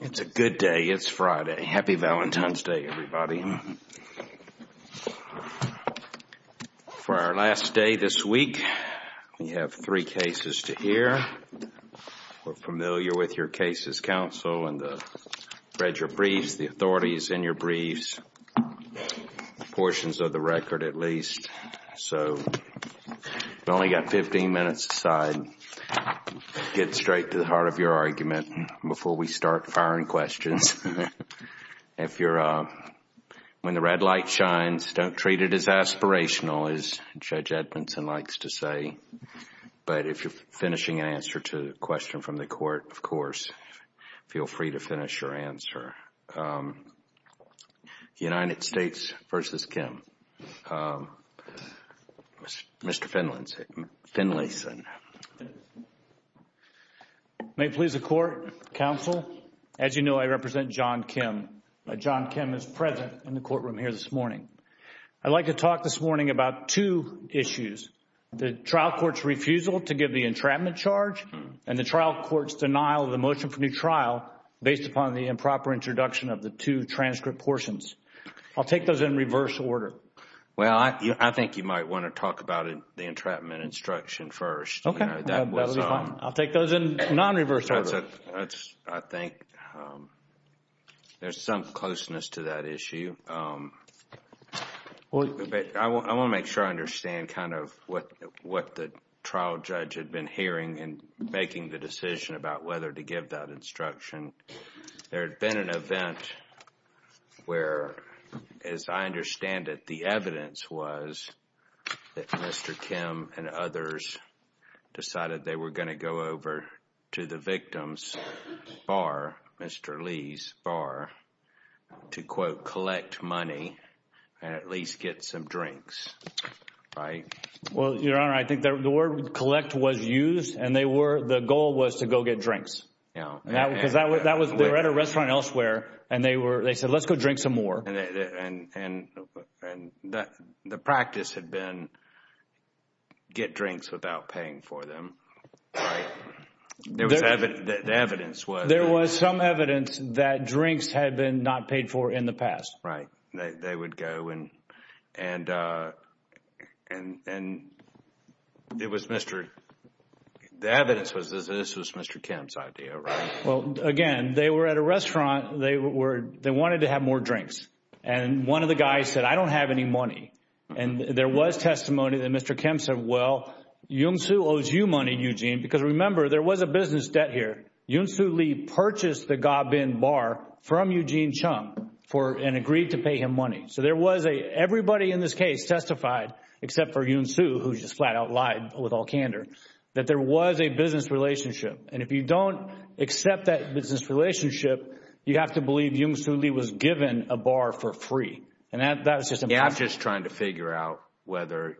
It's a good day. It's Friday. Happy Valentine's Day, everybody. For our last day this week, we have three cases to hear. We're familiar with your cases, counsel, and read your briefs, the authorities in your briefs, portions of the record at least. So we've only got 15 minutes aside. Get straight to the heart of your argument before we start firing questions. When the red light shines, don't treat it as aspirational, as Judge Edmondson likes to say. But if you're finishing an answer to a question from the court, of course, feel free to finish your answer. United States v. Kim Mr. Finlayson May it please the Court, counsel, as you know, I represent Jon Kim. Jon Kim is present in the courtroom here this morning. I'd like to talk this morning about two issues, the trial court's refusal to give the entrapment charge and the trial court's denial of the motion for new trial based upon the improper introduction of the two transcript portions. I'll take those in reverse order. Mr. Finlayson Well, I think you might want to talk about the entrapment instruction first. Jon Kim Okay, that would be fine. I'll take those in non-reverse order. Mr. Finlayson I think there's some closeness to that issue. I want to make sure I understand kind of what the trial judge had been hearing in making the decision about whether to give that instruction. There had been an event where, as I understand it, the evidence was that Mr. Kim and others decided they were going to go over to the victim's bar, Mr. Lee's bar, to, quote, collect money and at least get some drinks, right? Jon Kim Well, Your Honor, I think the word collect was used and the goal was to go get drinks. Because they were at a restaurant elsewhere and they said let's go drink some more. Mr. Finlayson And the practice had been get drinks without paying for them, right? Jon Kim There was some evidence that drinks had been not paid for in the past. Mr. Finlayson Right. They would go and the evidence was this was Mr. Kim's idea, right? Jon Kim Well, again, they were at a restaurant. They wanted to have more drinks. And one of the guys said, I don't have any money. And there was testimony that Mr. Kim said, well, Jung Soo owes you money, Eugene. Because remember there was a business debt here. Jung Soo Lee purchased the Gabin bar from Eugene Chung and agreed to pay him money. So there was a – everybody in this case testified except for Jung Soo who just flat out lied with all candor that there was a business relationship. And if you don't accept that business relationship, you have to believe Jung Soo Lee was given a bar for free. And that was just impossible. Mr. Finlayson Yeah, I'm just trying to figure out whether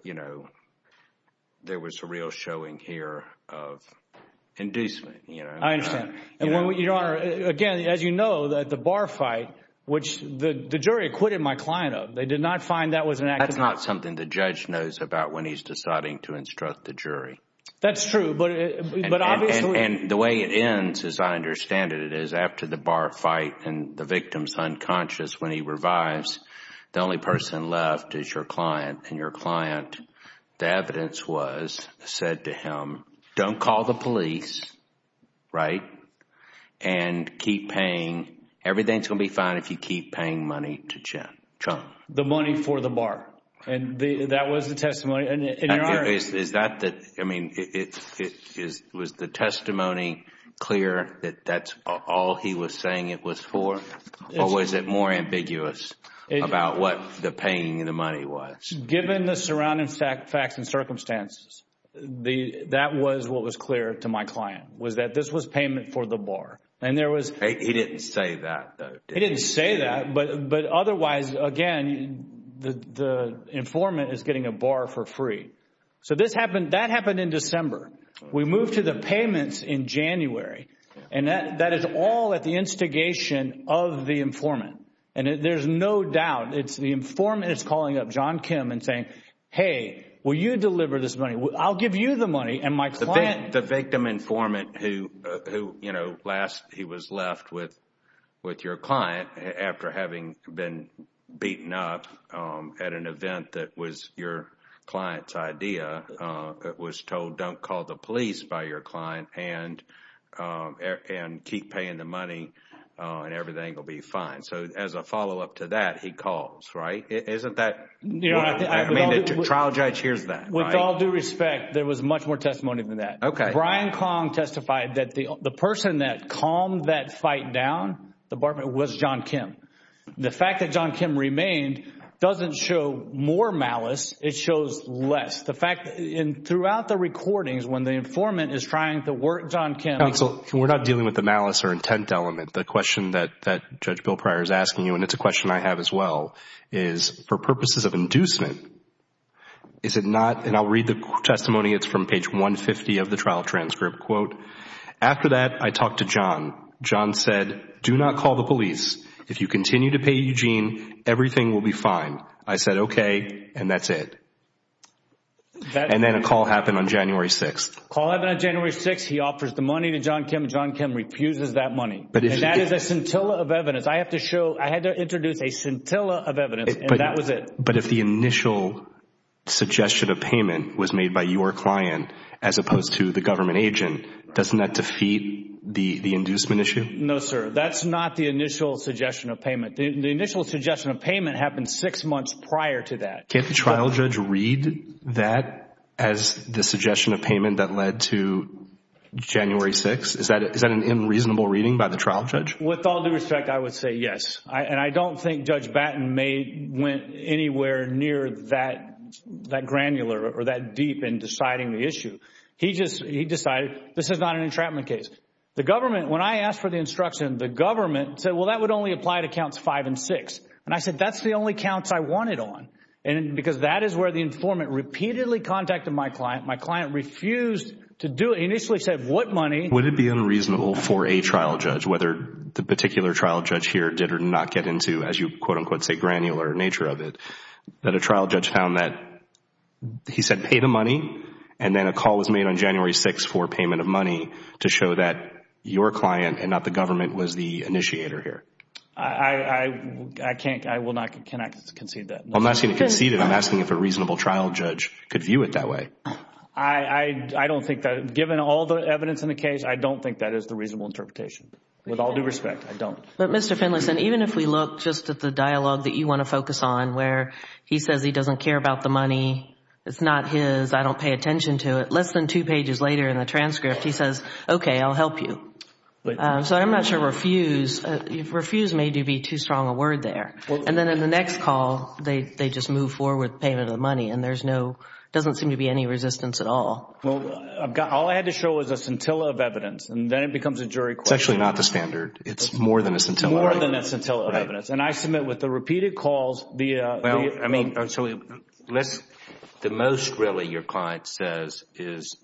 there was a real showing here of inducement. Jon Kim I understand. Your Honor, again, as you know, the bar fight, which the jury acquitted my client of, they did not find that was an act of – Mr. Finlayson That's not something the judge knows about when he's deciding to instruct the jury. Jon Kim That's true, but obviously – The only person left is your client, and your client, the evidence was said to him, don't call the police, right? And keep paying – everything's going to be fine if you keep paying money to Chung. Mr. Finlayson The money for the bar. And that was the testimony. And Your Honor – was the testimony clear that that's all he was saying it was for, or was it more ambiguous about what the paying of the money was? Jon Kim Given the surrounding facts and circumstances, that was what was clear to my client, was that this was payment for the bar. And there was – Mr. Finlayson He didn't say that, though, did he? Jon Kim He didn't say that, but otherwise, again, the informant is getting a bar for free. So this happened – that happened in December. We moved to the payments in January. And that is all at the instigation of the informant. And there's no doubt, it's the informant that's calling up Jon Kim and saying, hey, will you deliver this money? I'll give you the money, and my client – was told don't call the police by your client and keep paying the money, and everything will be fine. So as a follow-up to that, he calls, right? Isn't that – I mean, the trial judge hears that, right? Mr. Finlayson With all due respect, there was much more testimony than that. Jon Kim Okay. Mr. Finlayson Brian Kong testified that the person that calmed that fight down, the barman, was Jon Kim. The fact that Jon Kim remained doesn't show more malice, it shows less. The fact – throughout the recordings, when the informant is trying to work Jon Kim – Jon Kim Counsel, we're not dealing with the malice or intent element. The question that Judge Bill Pryor is asking you, and it's a question I have as well, is for purposes of inducement, is it not – and I'll read the testimony. It's from page 150 of the trial transcript. After that, I talked to Jon. Jon said, do not call the police. If you continue to pay Eugene, everything will be fine. I said, okay, and that's it. And then a call happened on January 6th. Jon Kim Call happened on January 6th. He offers the money to Jon Kim. Jon Kim refuses that money. And that is a scintilla of evidence. I have to show – I had to introduce a scintilla of evidence, and that was it. But if the initial suggestion of payment was made by your client as opposed to the government agent, doesn't that defeat the inducement issue? No, sir. That's not the initial suggestion of payment. The initial suggestion of payment happened six months prior to that. Can't the trial judge read that as the suggestion of payment that led to January 6th? Is that an unreasonable reading by the trial judge? With all due respect, I would say yes. And I don't think Judge Batten made – went anywhere near that granular or that deep in deciding the issue. He just – he decided this is not an entrapment case. The government – when I asked for the instruction, the government said, well, that would only apply to counts five and six. And I said, that's the only counts I want it on, because that is where the informant repeatedly contacted my client. My client refused to do it. He initially said, what money? Would it be unreasonable for a trial judge, whether the particular trial judge here did or did not get into, as you quote-unquote say, granular nature of it, that a trial judge found that he said pay the money and then a call was made on January 6th for payment of money to show that your client and not the government was the initiator here? I can't – I will not – can I concede that? I'm not asking to concede it. I'm asking if a reasonable trial judge could view it that way. I don't think that – given all the evidence in the case, I don't think that is the reasonable interpretation. With all due respect, I don't. But Mr. Finlayson, even if we look just at the dialogue that you want to focus on where he says he doesn't care about the money, it's not his, I don't pay attention to it, less than two pages later in the transcript, he says, okay, I'll help you. So I'm not sure refuse – refuse may be too strong a word there. And then in the next call, they just move forward payment of the money and there's no – doesn't seem to be any resistance at all. Well, I've got – all I had to show was a scintilla of evidence and then it becomes a jury question. It's actually not the standard. It's more than a scintilla. More than a scintilla of evidence. Right. And I submit with the repeated calls, the – Well, I mean, so let's – the most really your client says is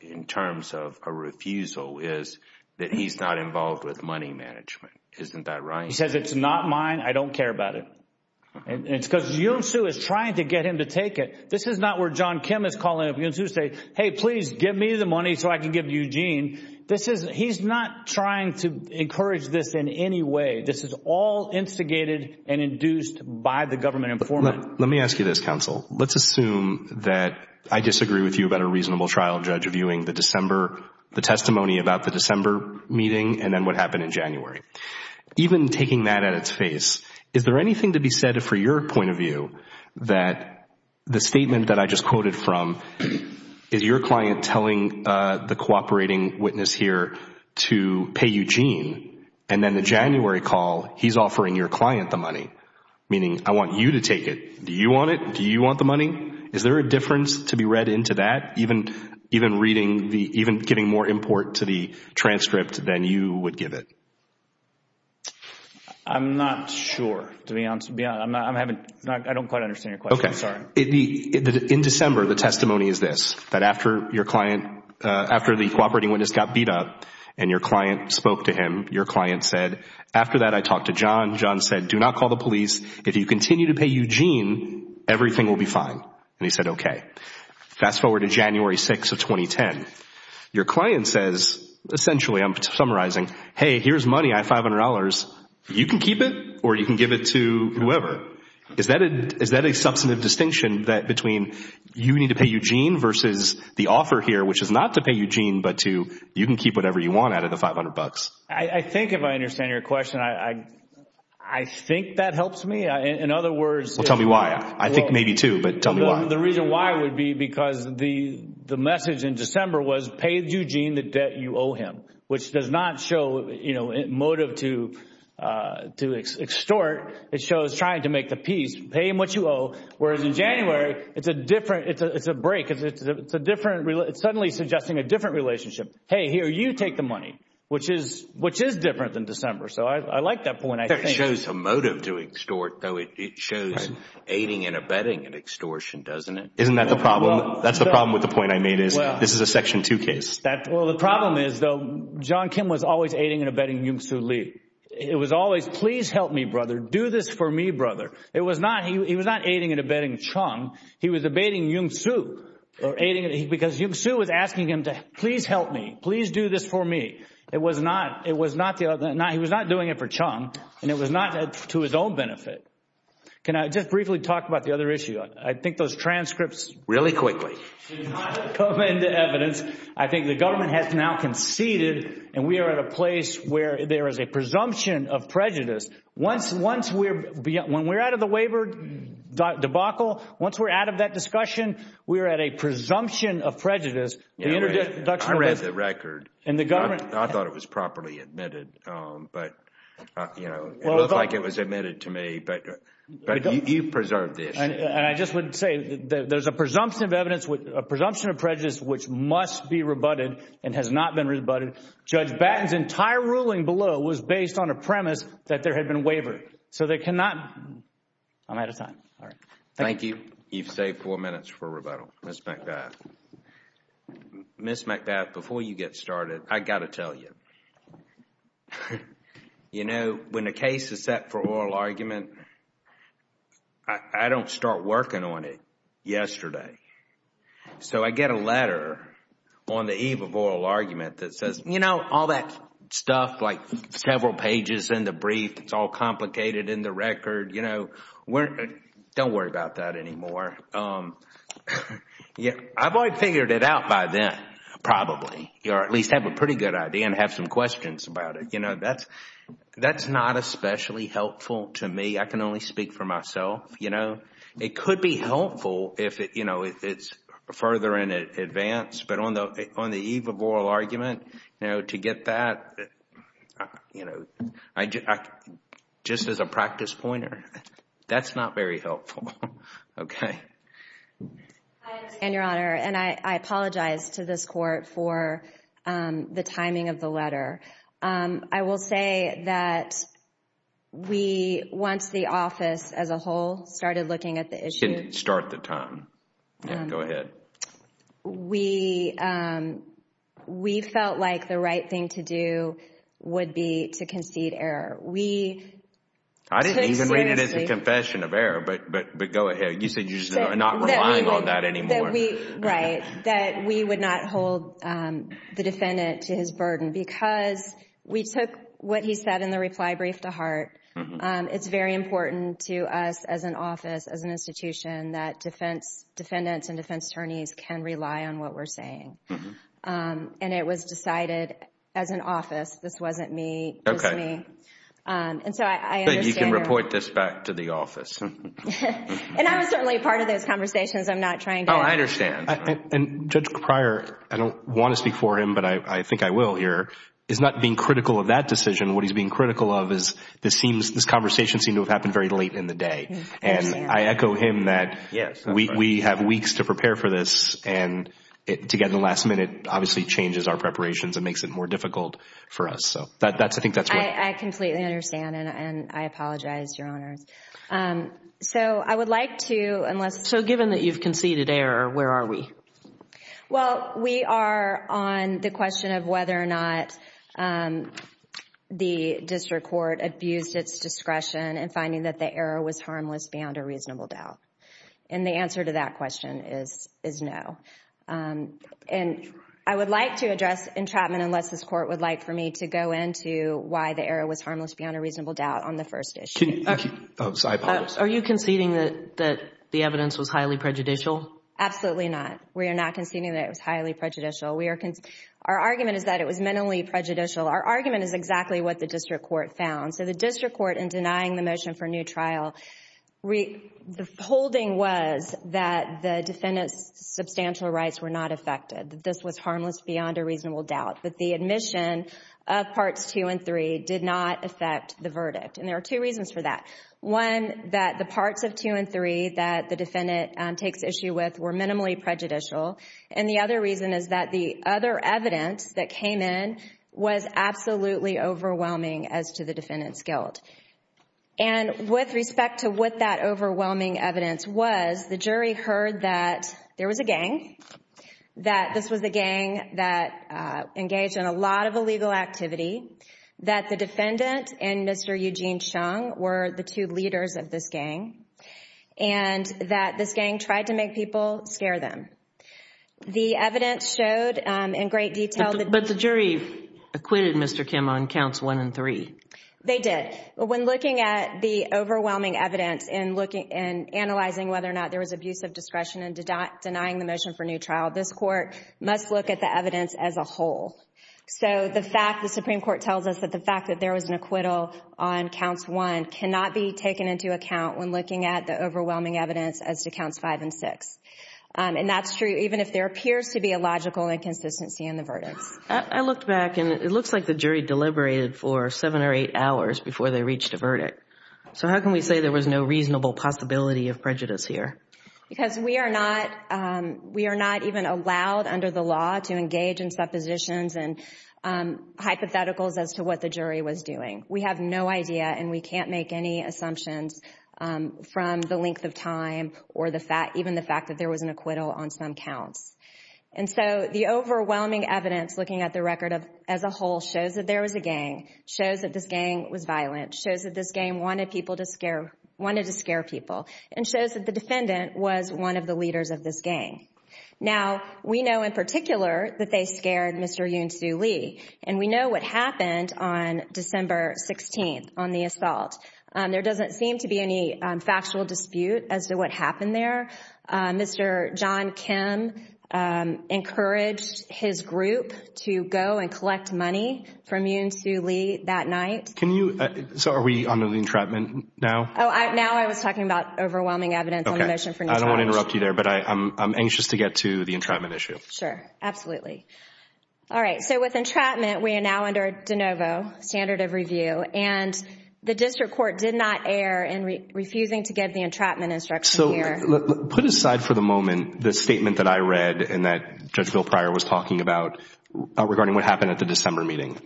in terms of a refusal is that he's not involved with money management. Isn't that right? He says it's not mine. I don't care about it. And it's because Yoon Soo is trying to get him to take it. This is not where John Kim is calling up Yoon Soo to say, hey, please give me the money so I can give it to Eugene. This is – he's not trying to encourage this in any way. This is all instigated and induced by the government informant. Let me ask you this, counsel. Let's assume that I disagree with you about a reasonable trial judge reviewing the December – the testimony about the December meeting and then what happened in January. Even taking that at its face, is there anything to be said for your point of view that the statement that I just quoted from is your client telling the cooperating witness here to pay Eugene and then the January call he's offering your client the money, meaning I want you to take it. Do you want it? Do you want the money? Is there a difference to be read into that, even reading the – even getting more import to the transcript than you would give it? I'm not sure, to be honest. I'm having – I don't quite understand your question. Okay. I'm sorry. In December, the testimony is this, that after your client – after the cooperating witness got beat up and your client spoke to him, your client said, after that I talked to John. John said, do not call the police. If you continue to pay Eugene, everything will be fine. And he said, okay. Fast forward to January 6th of 2010. Your client says, essentially, I'm summarizing, hey, here's money. I have $500. You can keep it or you can give it to whoever. Is that a substantive distinction between you need to pay Eugene versus the offer here, which is not to pay Eugene but to you can keep whatever you want out of the $500? I think if I understand your question, I think that helps me. In other words – Well, tell me why. I think maybe two, but tell me why. The reason why would be because the message in December was pay Eugene the debt you owe him, which does not show motive to extort. It shows trying to make the peace. Pay him what you owe, whereas in January, it's a different – it's a break. It's a different – it's suddenly suggesting a different relationship. Hey, here, you take the money, which is different than December. So I like that point, I think. It shows a motive to extort, though it shows aiding and abetting an extortion, doesn't it? Isn't that the problem? That's the problem with the point I made is this is a Section 2 case. Well, the problem is, though, John Kim was always aiding and abetting Jung Soo Lee. It was always, please help me, brother. Do this for me, brother. It was not – he was not aiding and abetting Chung. He was abetting Jung Soo because Jung Soo was asking him to please help me, please do this for me. It was not – it was not – he was not doing it for Chung, and it was not to his own benefit. Can I just briefly talk about the other issue? I think those transcripts really quickly come into evidence. I think the government has now conceded, and we are at a place where there is a presumption of prejudice. Once we're – when we're out of the waiver debacle, once we're out of that discussion, we're at a presumption of prejudice. I read the record. And the government – I thought it was properly admitted, but, you know, it looked like it was admitted to me. But you preserved this. And I just would say there's a presumption of evidence – a presumption of prejudice which must be rebutted and has not been rebutted. Judge Batten's entire ruling below was based on a premise that there had been a waiver. So they cannot – I'm out of time. All right. Thank you. Thank you. You've saved four minutes for rebuttal. Ms. McBath. Ms. McBath, before you get started, I've got to tell you. You know, when a case is set for oral argument, I don't start working on it yesterday. So I get a letter on the eve of oral argument that says, you know, all that stuff, like several pages in the brief, it's all complicated in the record, you know. Don't worry about that anymore. I've already figured it out by then, probably, or at least have a pretty good idea and have some questions about it. You know, that's not especially helpful to me. I can only speak for myself, you know. It could be helpful if, you know, it's further in advance. But on the eve of oral argument, you know, to get that, you know, just as a practice pointer, that's not very helpful. Okay. I understand, Your Honor, and I apologize to this Court for the timing of the letter. I will say that we, once the office as a whole started looking at the issue... You can start the time. Yeah, go ahead. We felt like the right thing to do would be to concede error. We... I didn't even read it as a confession of error, but go ahead. You said you're not relying on that anymore. Right, that we would not hold the defendant to his burden because we took what he said in the reply brief to heart. It's very important to us as an office, as an institution, that defendants and defense attorneys can rely on what we're saying. And it was decided as an office, this wasn't me, this is me. And so I understand... But you can report this back to the office. And I was certainly a part of those conversations. I'm not trying to... Oh, I understand. And Judge Crier, I don't want to speak for him, but I think I will here, is not being critical of that decision. What he's being critical of is this conversation seemed to have happened very late in the day. And I echo him that we have weeks to prepare for this, and to get to the last minute obviously changes our preparations and makes it more difficult for us. I completely understand, and I apologize, Your Honor. So I would like to... So given that you've conceded error, where are we? Well, we are on the question of whether or not the district court abused its discretion in finding that the error was harmless beyond a reasonable doubt. And the answer to that question is no. And I would like to address entrapment unless this court would like for me to go into why the error was harmless beyond a reasonable doubt on the first issue. I apologize. Are you conceding that the evidence was highly prejudicial? Absolutely not. We are not conceding that it was highly prejudicial. We are... Our argument is that it was minimally prejudicial. Our argument is exactly what the district court found. So the district court, in denying the motion for new trial, the holding was that the defendant's substantial rights were not affected, that this was harmless beyond a reasonable doubt, that the admission of Parts 2 and 3 did not affect the verdict. And there are two reasons for that. One, that the parts of 2 and 3 that the defendant takes issue with were minimally prejudicial. And the other reason is that the other evidence that came in was absolutely overwhelming as to the defendant's guilt. And with respect to what that overwhelming evidence was, the jury heard that there was a gang, that this was a gang that engaged in a lot of illegal activity, that the defendant and Mr. Eugene Chung were the two leaders of this gang, and that this gang tried to make people scare them. The evidence showed in great detail... But the jury acquitted Mr. Kim on counts 1 and 3. They did. When looking at the overwhelming evidence and analyzing whether or not there was abusive discretion in denying the motion for new trial, this court must look at the evidence as a whole. So the fact that the Supreme Court tells us that the fact that there was an acquittal on counts 1 cannot be taken into account when looking at the overwhelming evidence as to counts 5 and 6. And that's true even if there appears to be a logical inconsistency in the verdict. I looked back, and it looks like the jury deliberated for seven or eight hours before they reached a verdict. So how can we say there was no reasonable possibility of prejudice here? Because we are not even allowed under the law to engage in suppositions and hypotheticals as to what the jury was doing. We have no idea, and we can't make any assumptions from the length of time or even the fact that there was an acquittal on some counts. And so the overwhelming evidence looking at the record as a whole shows that there was a gang, shows that this gang was violent, shows that this gang wanted to scare people, and shows that the defendant was one of the leaders of this gang. Now, we know in particular that they scared Mr. Yoon Soo Lee, and we know what happened on December 16th on the assault. There doesn't seem to be any factual dispute as to what happened there. Mr. John Kim encouraged his group to go and collect money from Yoon Soo Lee that night. So are we under the entrapment now? Oh, now I was talking about overwhelming evidence on the motion for new charge. I don't want to interrupt you there, but I'm anxious to get to the entrapment issue. Sure, absolutely. All right, so with entrapment, we are now under de novo, standard of review, and the district court did not err in refusing to give the entrapment instruction here. So put aside for the moment the statement that I read and that Judge Bill Pryor was talking about regarding what happened at the December meeting.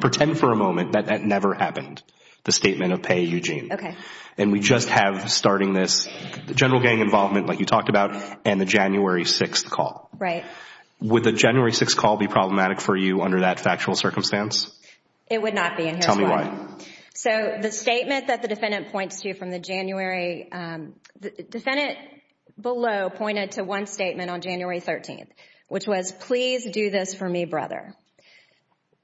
Pretend for a moment that that never happened, the statement of Pei Eugene. Okay. And we just have starting this, the general gang involvement like you talked about, and the January 6th call. Right. Would the January 6th call be problematic for you under that factual circumstance? It would not be in here. Tell me why. So the statement that the defendant points to from the January, the defendant below pointed to one statement on January 13th, which was, please do this for me, brother.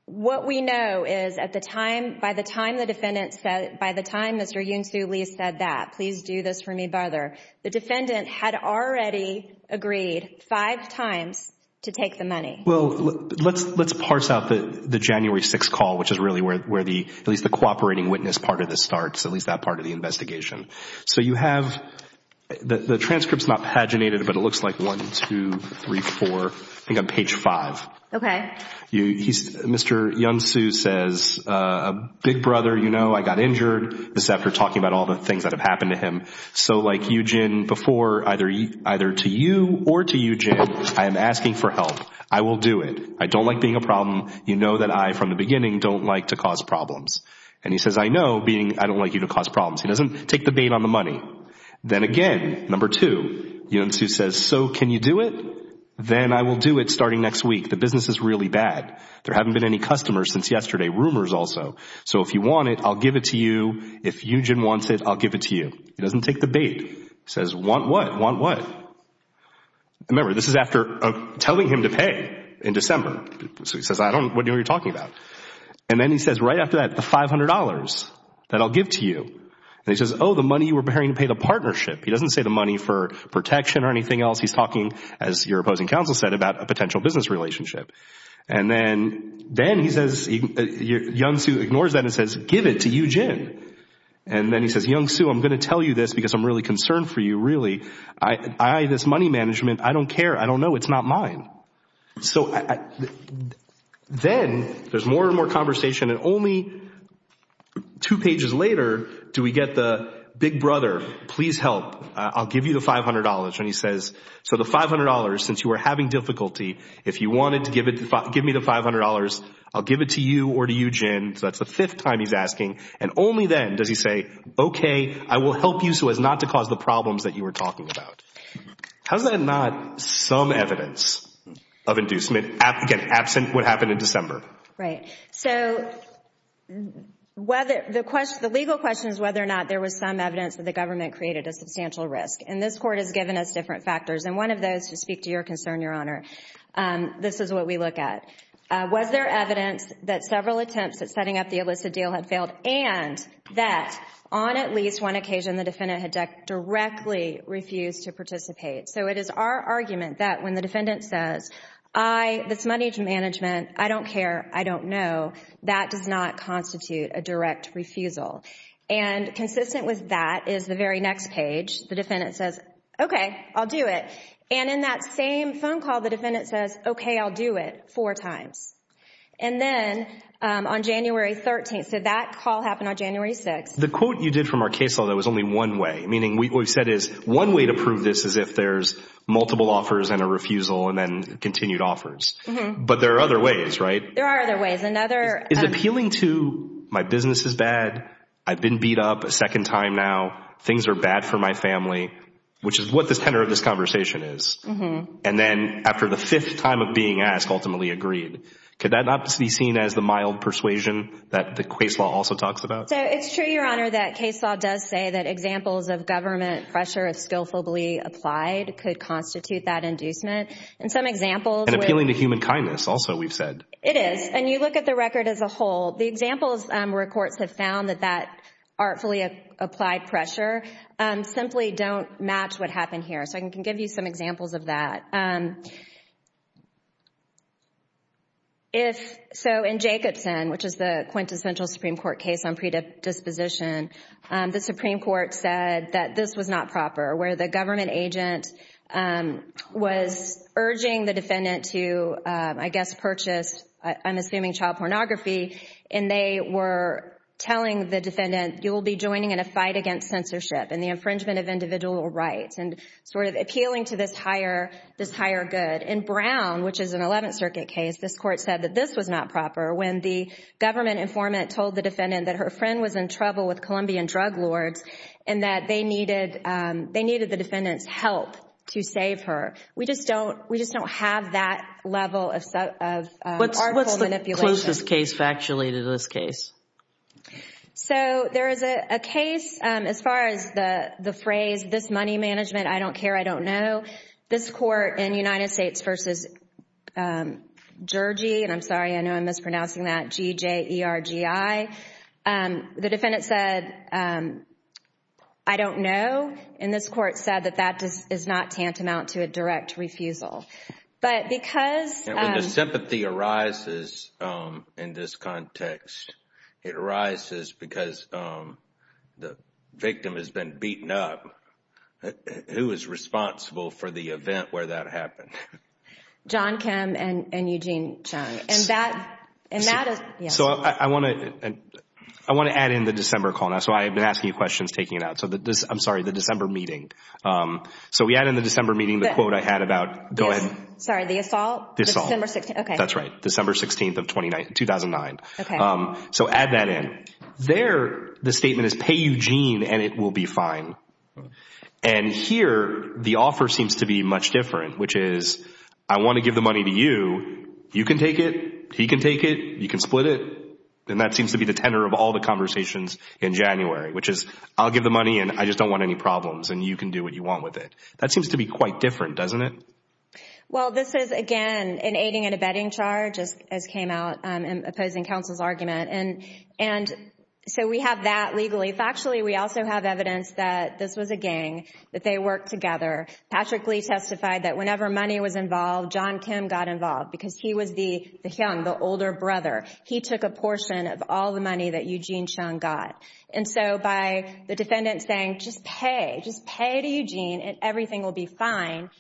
What we know is at the time, by the time the defendant said, by the time Mr. Yoon Soo Lee said that, please do this for me, brother, the defendant had already agreed five times to take the money. Well, let's parse out the January 6th call, which is really where at least the cooperating witness part of this starts, at least that part of the investigation. So you have, the transcript's not paginated, but it looks like one, two, three, four, I think on page five. Okay. Mr. Yoon Soo says, big brother, you know, I got injured. This is after talking about all the things that have happened to him. So like Eugene before, either to you or to Eugene, I am asking for help. I will do it. I don't like being a problem. You know that I, from the beginning, don't like to cause problems. And he says, I know, I don't like you to cause problems. He doesn't take the bait on the money. Then again, number two, Yoon Soo says, so can you do it? Then I will do it starting next week. The business is really bad. There haven't been any customers since yesterday. Rumors also. So if you want it, I'll give it to you. If Eugene wants it, I'll give it to you. He doesn't take the bait. He says, want what? Want what? Remember, this is after telling him to pay in December. So he says, I don't know what you're talking about. And then he says, right after that, the $500 that I'll give to you. And he says, oh, the money you were preparing to pay the partnership. He doesn't say the money for protection or anything else. He's talking, as your opposing counsel said, about a potential business relationship. And then he says, Yoon Soo ignores that and says, give it to Eugene. And then he says, Yoon Soo, I'm going to tell you this because I'm really concerned for you, really. I, this money management, I don't care. I don't know. It's not mine. So then there's more and more conversation. And only two pages later do we get the big brother, please help. I'll give you the $500. And he says, so the $500, since you were having difficulty, if you wanted to give me the $500, I'll give it to you or to Eugene. So that's the fifth time he's asking. And only then does he say, okay, I will help you so as not to cause the problems that you were talking about. How is that not some evidence of inducement, again, absent what happened in December? Right. So the legal question is whether or not there was some evidence that the government created a substantial risk. And this Court has given us different factors. And one of those, to speak to your concern, Your Honor, this is what we look at. Was there evidence that several attempts at setting up the illicit deal had failed and that on at least one occasion the defendant had directly refused to participate? So it is our argument that when the defendant says, I, this money management, I don't care, I don't know, that does not constitute a direct refusal. And consistent with that is the very next page. The defendant says, okay, I'll do it. And in that same phone call, the defendant says, okay, I'll do it four times. And then on January 13th, so that call happened on January 6th. The quote you did from our case law that was only one way, meaning what we've said is one way to prove this is if there's multiple offers and a refusal and then continued offers. But there are other ways, right? There are other ways. Is appealing to my business is bad, I've been beat up a second time now, things are bad for my family, which is what the tenor of this conversation is. And then after the fifth time of being asked, ultimately agreed. Could that not be seen as the mild persuasion that the case law also talks about? So it's true, Your Honor, that case law does say that examples of government pressure of skillfully applied could constitute that inducement. And some examples. And appealing to human kindness also we've said. It is. And you look at the record as a whole, the examples where courts have found that that artfully applied pressure simply don't match what happened here. So I can give you some examples of that. So in Jacobson, which is the quintessential Supreme Court case on predisposition, the Supreme Court said that this was not proper, where the government agent was urging the defendant to, I guess, purchase, I'm assuming child pornography, and they were telling the defendant, you will be joining in a fight against censorship and the infringement of individual rights and sort of appealing to this higher good. In Brown, which is an Eleventh Circuit case, this court said that this was not proper, when the government informant told the defendant that her friend was in trouble with Colombian drug lords and that they needed the defendant's help to save her. We just don't have that level of article manipulation. What's the closest case factually to this case? So there is a case, as far as the phrase, this money management, I don't care, I don't know, this court in United States v. Jergy, and I'm sorry, I know I'm mispronouncing that, G-J-E-R-G-I, the defendant said, I don't know, and this court said that that is not tantamount to a direct refusal. When the sympathy arises in this context, it arises because the victim has been beaten up, who is responsible for the event where that happened? John Kim and Eugene Chung. I want to add in the December call now, so I've been asking you questions, taking it out. I'm sorry, the December meeting. So we add in the December meeting the quote I had about, go ahead. Sorry, the assault? The assault. December 16th, okay. That's right. December 16th of 2009. Okay. So add that in. There, the statement is, pay Eugene and it will be fine. And here, the offer seems to be much different, which is, I want to give the money to you, you can take it, he can take it, you can split it, and that seems to be the tenor of all the conversations in January, which is, I'll give the money and I just don't want any problems, and you can do what you want with it. That seems to be quite different, doesn't it? Well, this is, again, an aiding and abetting charge, as came out in opposing counsel's argument. And so we have that legally. Factually, we also have evidence that this was a gang, that they worked together. Patrick Lee testified that whenever money was involved, John Kim got involved because he was the hyung, the older brother. He took a portion of all the money that Eugene Chung got. And so by the defendant saying, just pay, just pay to Eugene and everything will be fine,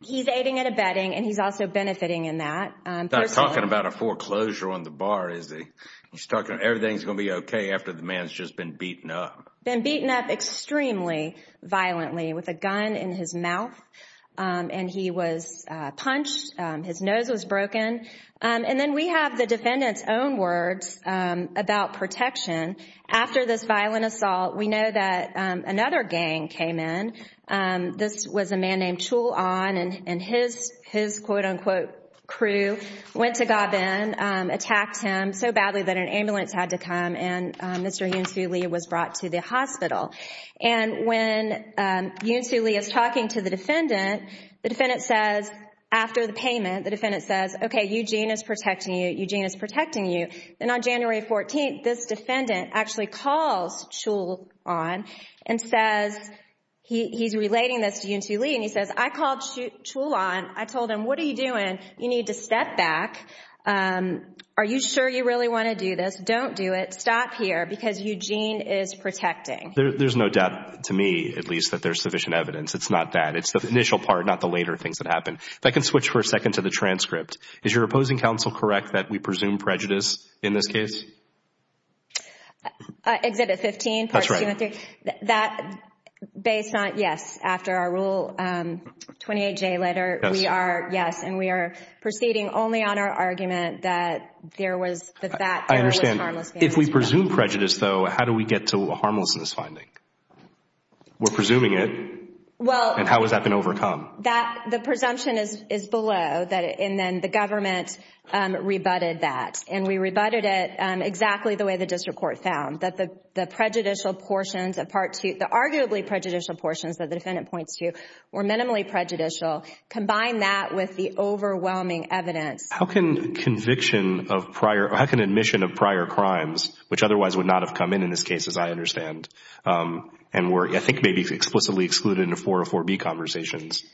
he's aiding and abetting and he's also benefiting in that. He's not talking about a foreclosure on the bar, is he? He's talking about everything's going to be okay after the man's just been beaten up. Been beaten up extremely violently with a gun in his mouth, and he was punched, his nose was broken. And then we have the defendant's own words about protection. After this violent assault, we know that another gang came in. This was a man named Chul Ahn, and his quote-unquote crew went to Gabin, attacked him so badly that an ambulance had to come, and Mr. Yoon Soo Lee was brought to the hospital. And when Yoon Soo Lee is talking to the defendant, the defendant says, after the payment, the defendant says, okay, Eugene is protecting you, Eugene is protecting you. And on January 14th, this defendant actually calls Chul Ahn and says, he's relating this to Yoon Soo Lee, and he says, I called Chul Ahn. I told him, what are you doing? You need to step back. Are you sure you really want to do this? Don't do it. Stop here because Eugene is protecting. There's no doubt, to me at least, that there's sufficient evidence. It's not that. It's the initial part, not the later things that happen. If I can switch for a second to the transcript. Is your opposing counsel correct that we presume prejudice in this case? Exhibit 15, Part 2 and 3. That's right. That, based on, yes, after our Rule 28J letter, we are, yes, and we are proceeding only on our argument that there was, that there was harmless gangs. I understand. If we presume prejudice, though, how do we get to a harmlessness finding? We're presuming it. Well. And how has that been overcome? That, the presumption is below, and then the government rebutted that, and we rebutted it exactly the way the district court found, that the prejudicial portions of Part 2, the arguably prejudicial portions that the defendant points to were minimally prejudicial. Combine that with the overwhelming evidence. How can conviction of prior, or how can admission of prior crimes, which otherwise would not have come in in this case, as I understand, and were, I think, maybe explicitly excluded in the 404B conversations?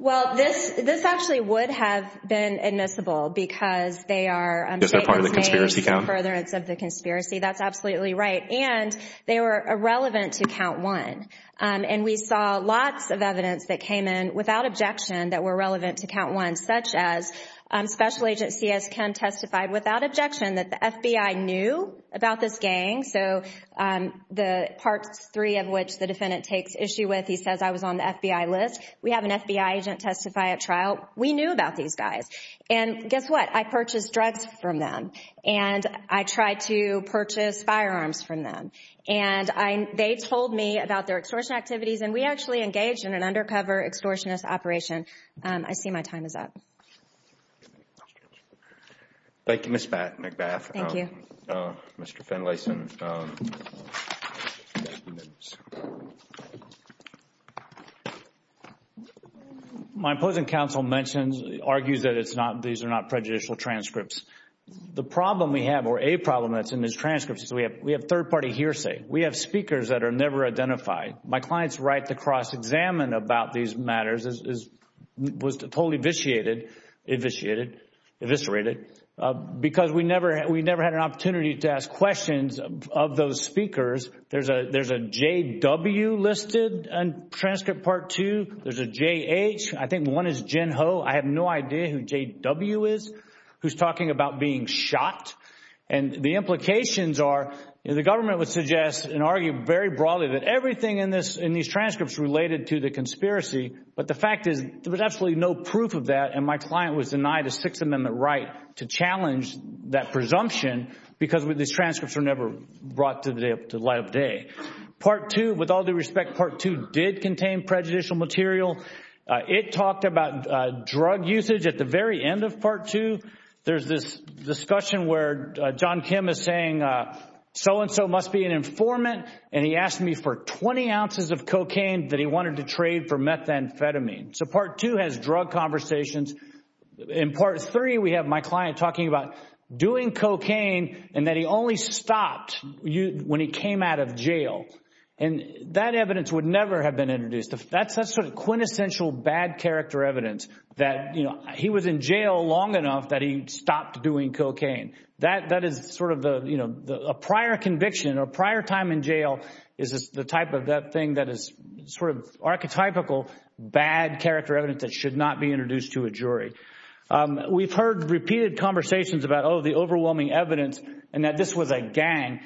Well, this actually would have been admissible because they are part of the conspiracy count. Because they're part of the conspiracy count. Furtherance of the conspiracy. That's absolutely right. And they were irrelevant to Count 1, and we saw lots of evidence that came in without objection that were relevant to Count 1, such as Special Agent C.S. Kemm testified without objection that the FBI knew about this gang, so the Parts 3 of which the defendant takes issue with, he says, I was on the FBI list. We have an FBI agent testify at trial. We knew about these guys. And guess what? I purchased drugs from them, and I tried to purchase firearms from them. And they told me about their extortion activities, and we actually engaged in an undercover extortionist operation. I see my time is up. Thank you, Ms. McBath. Thank you. Mr. Finlayson. My opposing counsel argues that these are not prejudicial transcripts. The problem we have, or a problem that's in these transcripts, is we have third-party hearsay. We have speakers that are never identified. My client's right to cross-examine about these matters was totally eviscerated because we never had an opportunity to ask questions of those speakers. There's a J.W. listed in transcript Part 2. There's a J.H. I think one is Jen Ho. I have no idea who J.W. is who's talking about being shot. And the implications are the government would suggest and argue very broadly that everything in these transcripts related to the conspiracy, but the fact is there was absolutely no proof of that, and my client was denied a Sixth Amendment right to challenge that presumption because these transcripts were never brought to light of day. Part 2, with all due respect, Part 2 did contain prejudicial material. It talked about drug usage at the very end of Part 2. There's this discussion where John Kim is saying so-and-so must be an informant, and he asked me for 20 ounces of cocaine that he wanted to trade for methamphetamine. So Part 2 has drug conversations. In Part 3, we have my client talking about doing cocaine and that he only stopped when he came out of jail. And that evidence would never have been introduced. That's sort of quintessential bad character evidence that he was in jail long enough that he stopped doing cocaine. That is sort of a prior conviction or prior time in jail is the type of thing that is sort of archetypical bad character evidence that should not be introduced to a jury. We've heard repeated conversations about, oh, the overwhelming evidence and that this was a gang.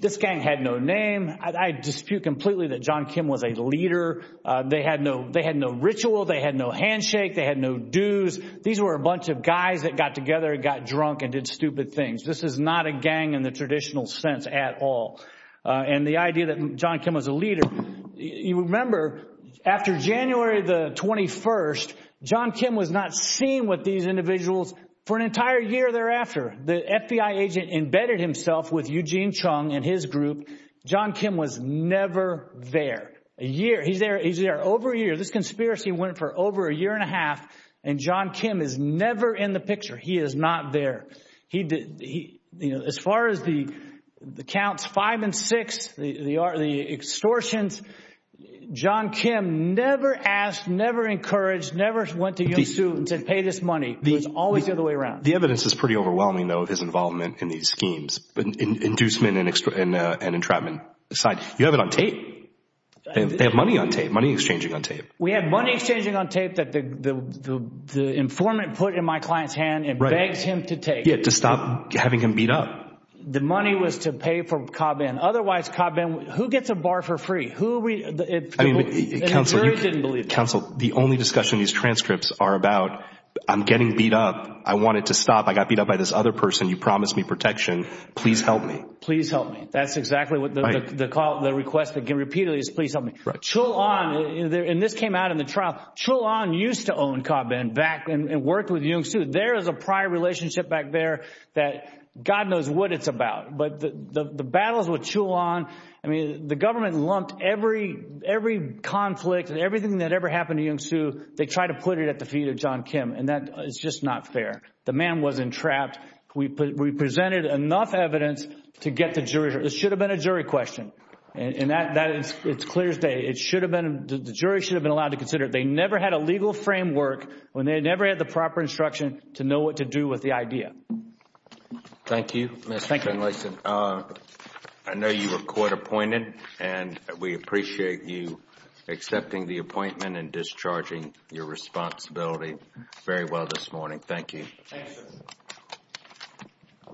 This gang had no name. I dispute completely that John Kim was a leader. They had no ritual. They had no handshake. They had no dues. These were a bunch of guys that got together and got drunk and did stupid things. This is not a gang in the traditional sense at all. And the idea that John Kim was a leader, you remember after January the 21st, John Kim was not seen with these individuals for an entire year thereafter. The FBI agent embedded himself with Eugene Chung and his group. John Kim was never there. He's there over a year. This conspiracy went for over a year and a half, and John Kim is never in the picture. He is not there. As far as the counts five and six, the extortions, John Kim never asked, never encouraged, never went to Yung Su and said pay this money. It was always the other way around. The evidence is pretty overwhelming, though, of his involvement in these schemes, inducement and entrapment aside. You have it on tape. They have money on tape, money exchanging on tape. We have money exchanging on tape that the informant put in my client's hand and begs him to take it. Yeah, to stop having him beat up. The money was to pay for Cobb Inn. Otherwise, Cobb Inn, who gets a bar for free? The jury didn't believe me. Counsel, the only discussion these transcripts are about, I'm getting beat up. I wanted to stop. I got beat up by this other person. You promised me protection. Please help me. Please help me. That's exactly what the request that came repeatedly is, please help me. Chul On, and this came out in the trial, Chul On used to own Cobb Inn back and worked with Yung Su. There is a prior relationship back there that God knows what it's about. But the battles with Chul On, I mean, the government lumped every conflict and everything that ever happened to Yung Su. They tried to put it at the feet of John Kim, and that is just not fair. The man wasn't trapped. We presented enough evidence to get the jury. This should have been a jury question. It's clear as day. The jury should have been allowed to consider it. They never had a legal framework when they never had the proper instruction to know what to do with the idea. Thank you, Mr. Finlayson. I know you were court appointed, and we appreciate you accepting the appointment and discharging your responsibility very well this morning. Thank you. Thank you, sir.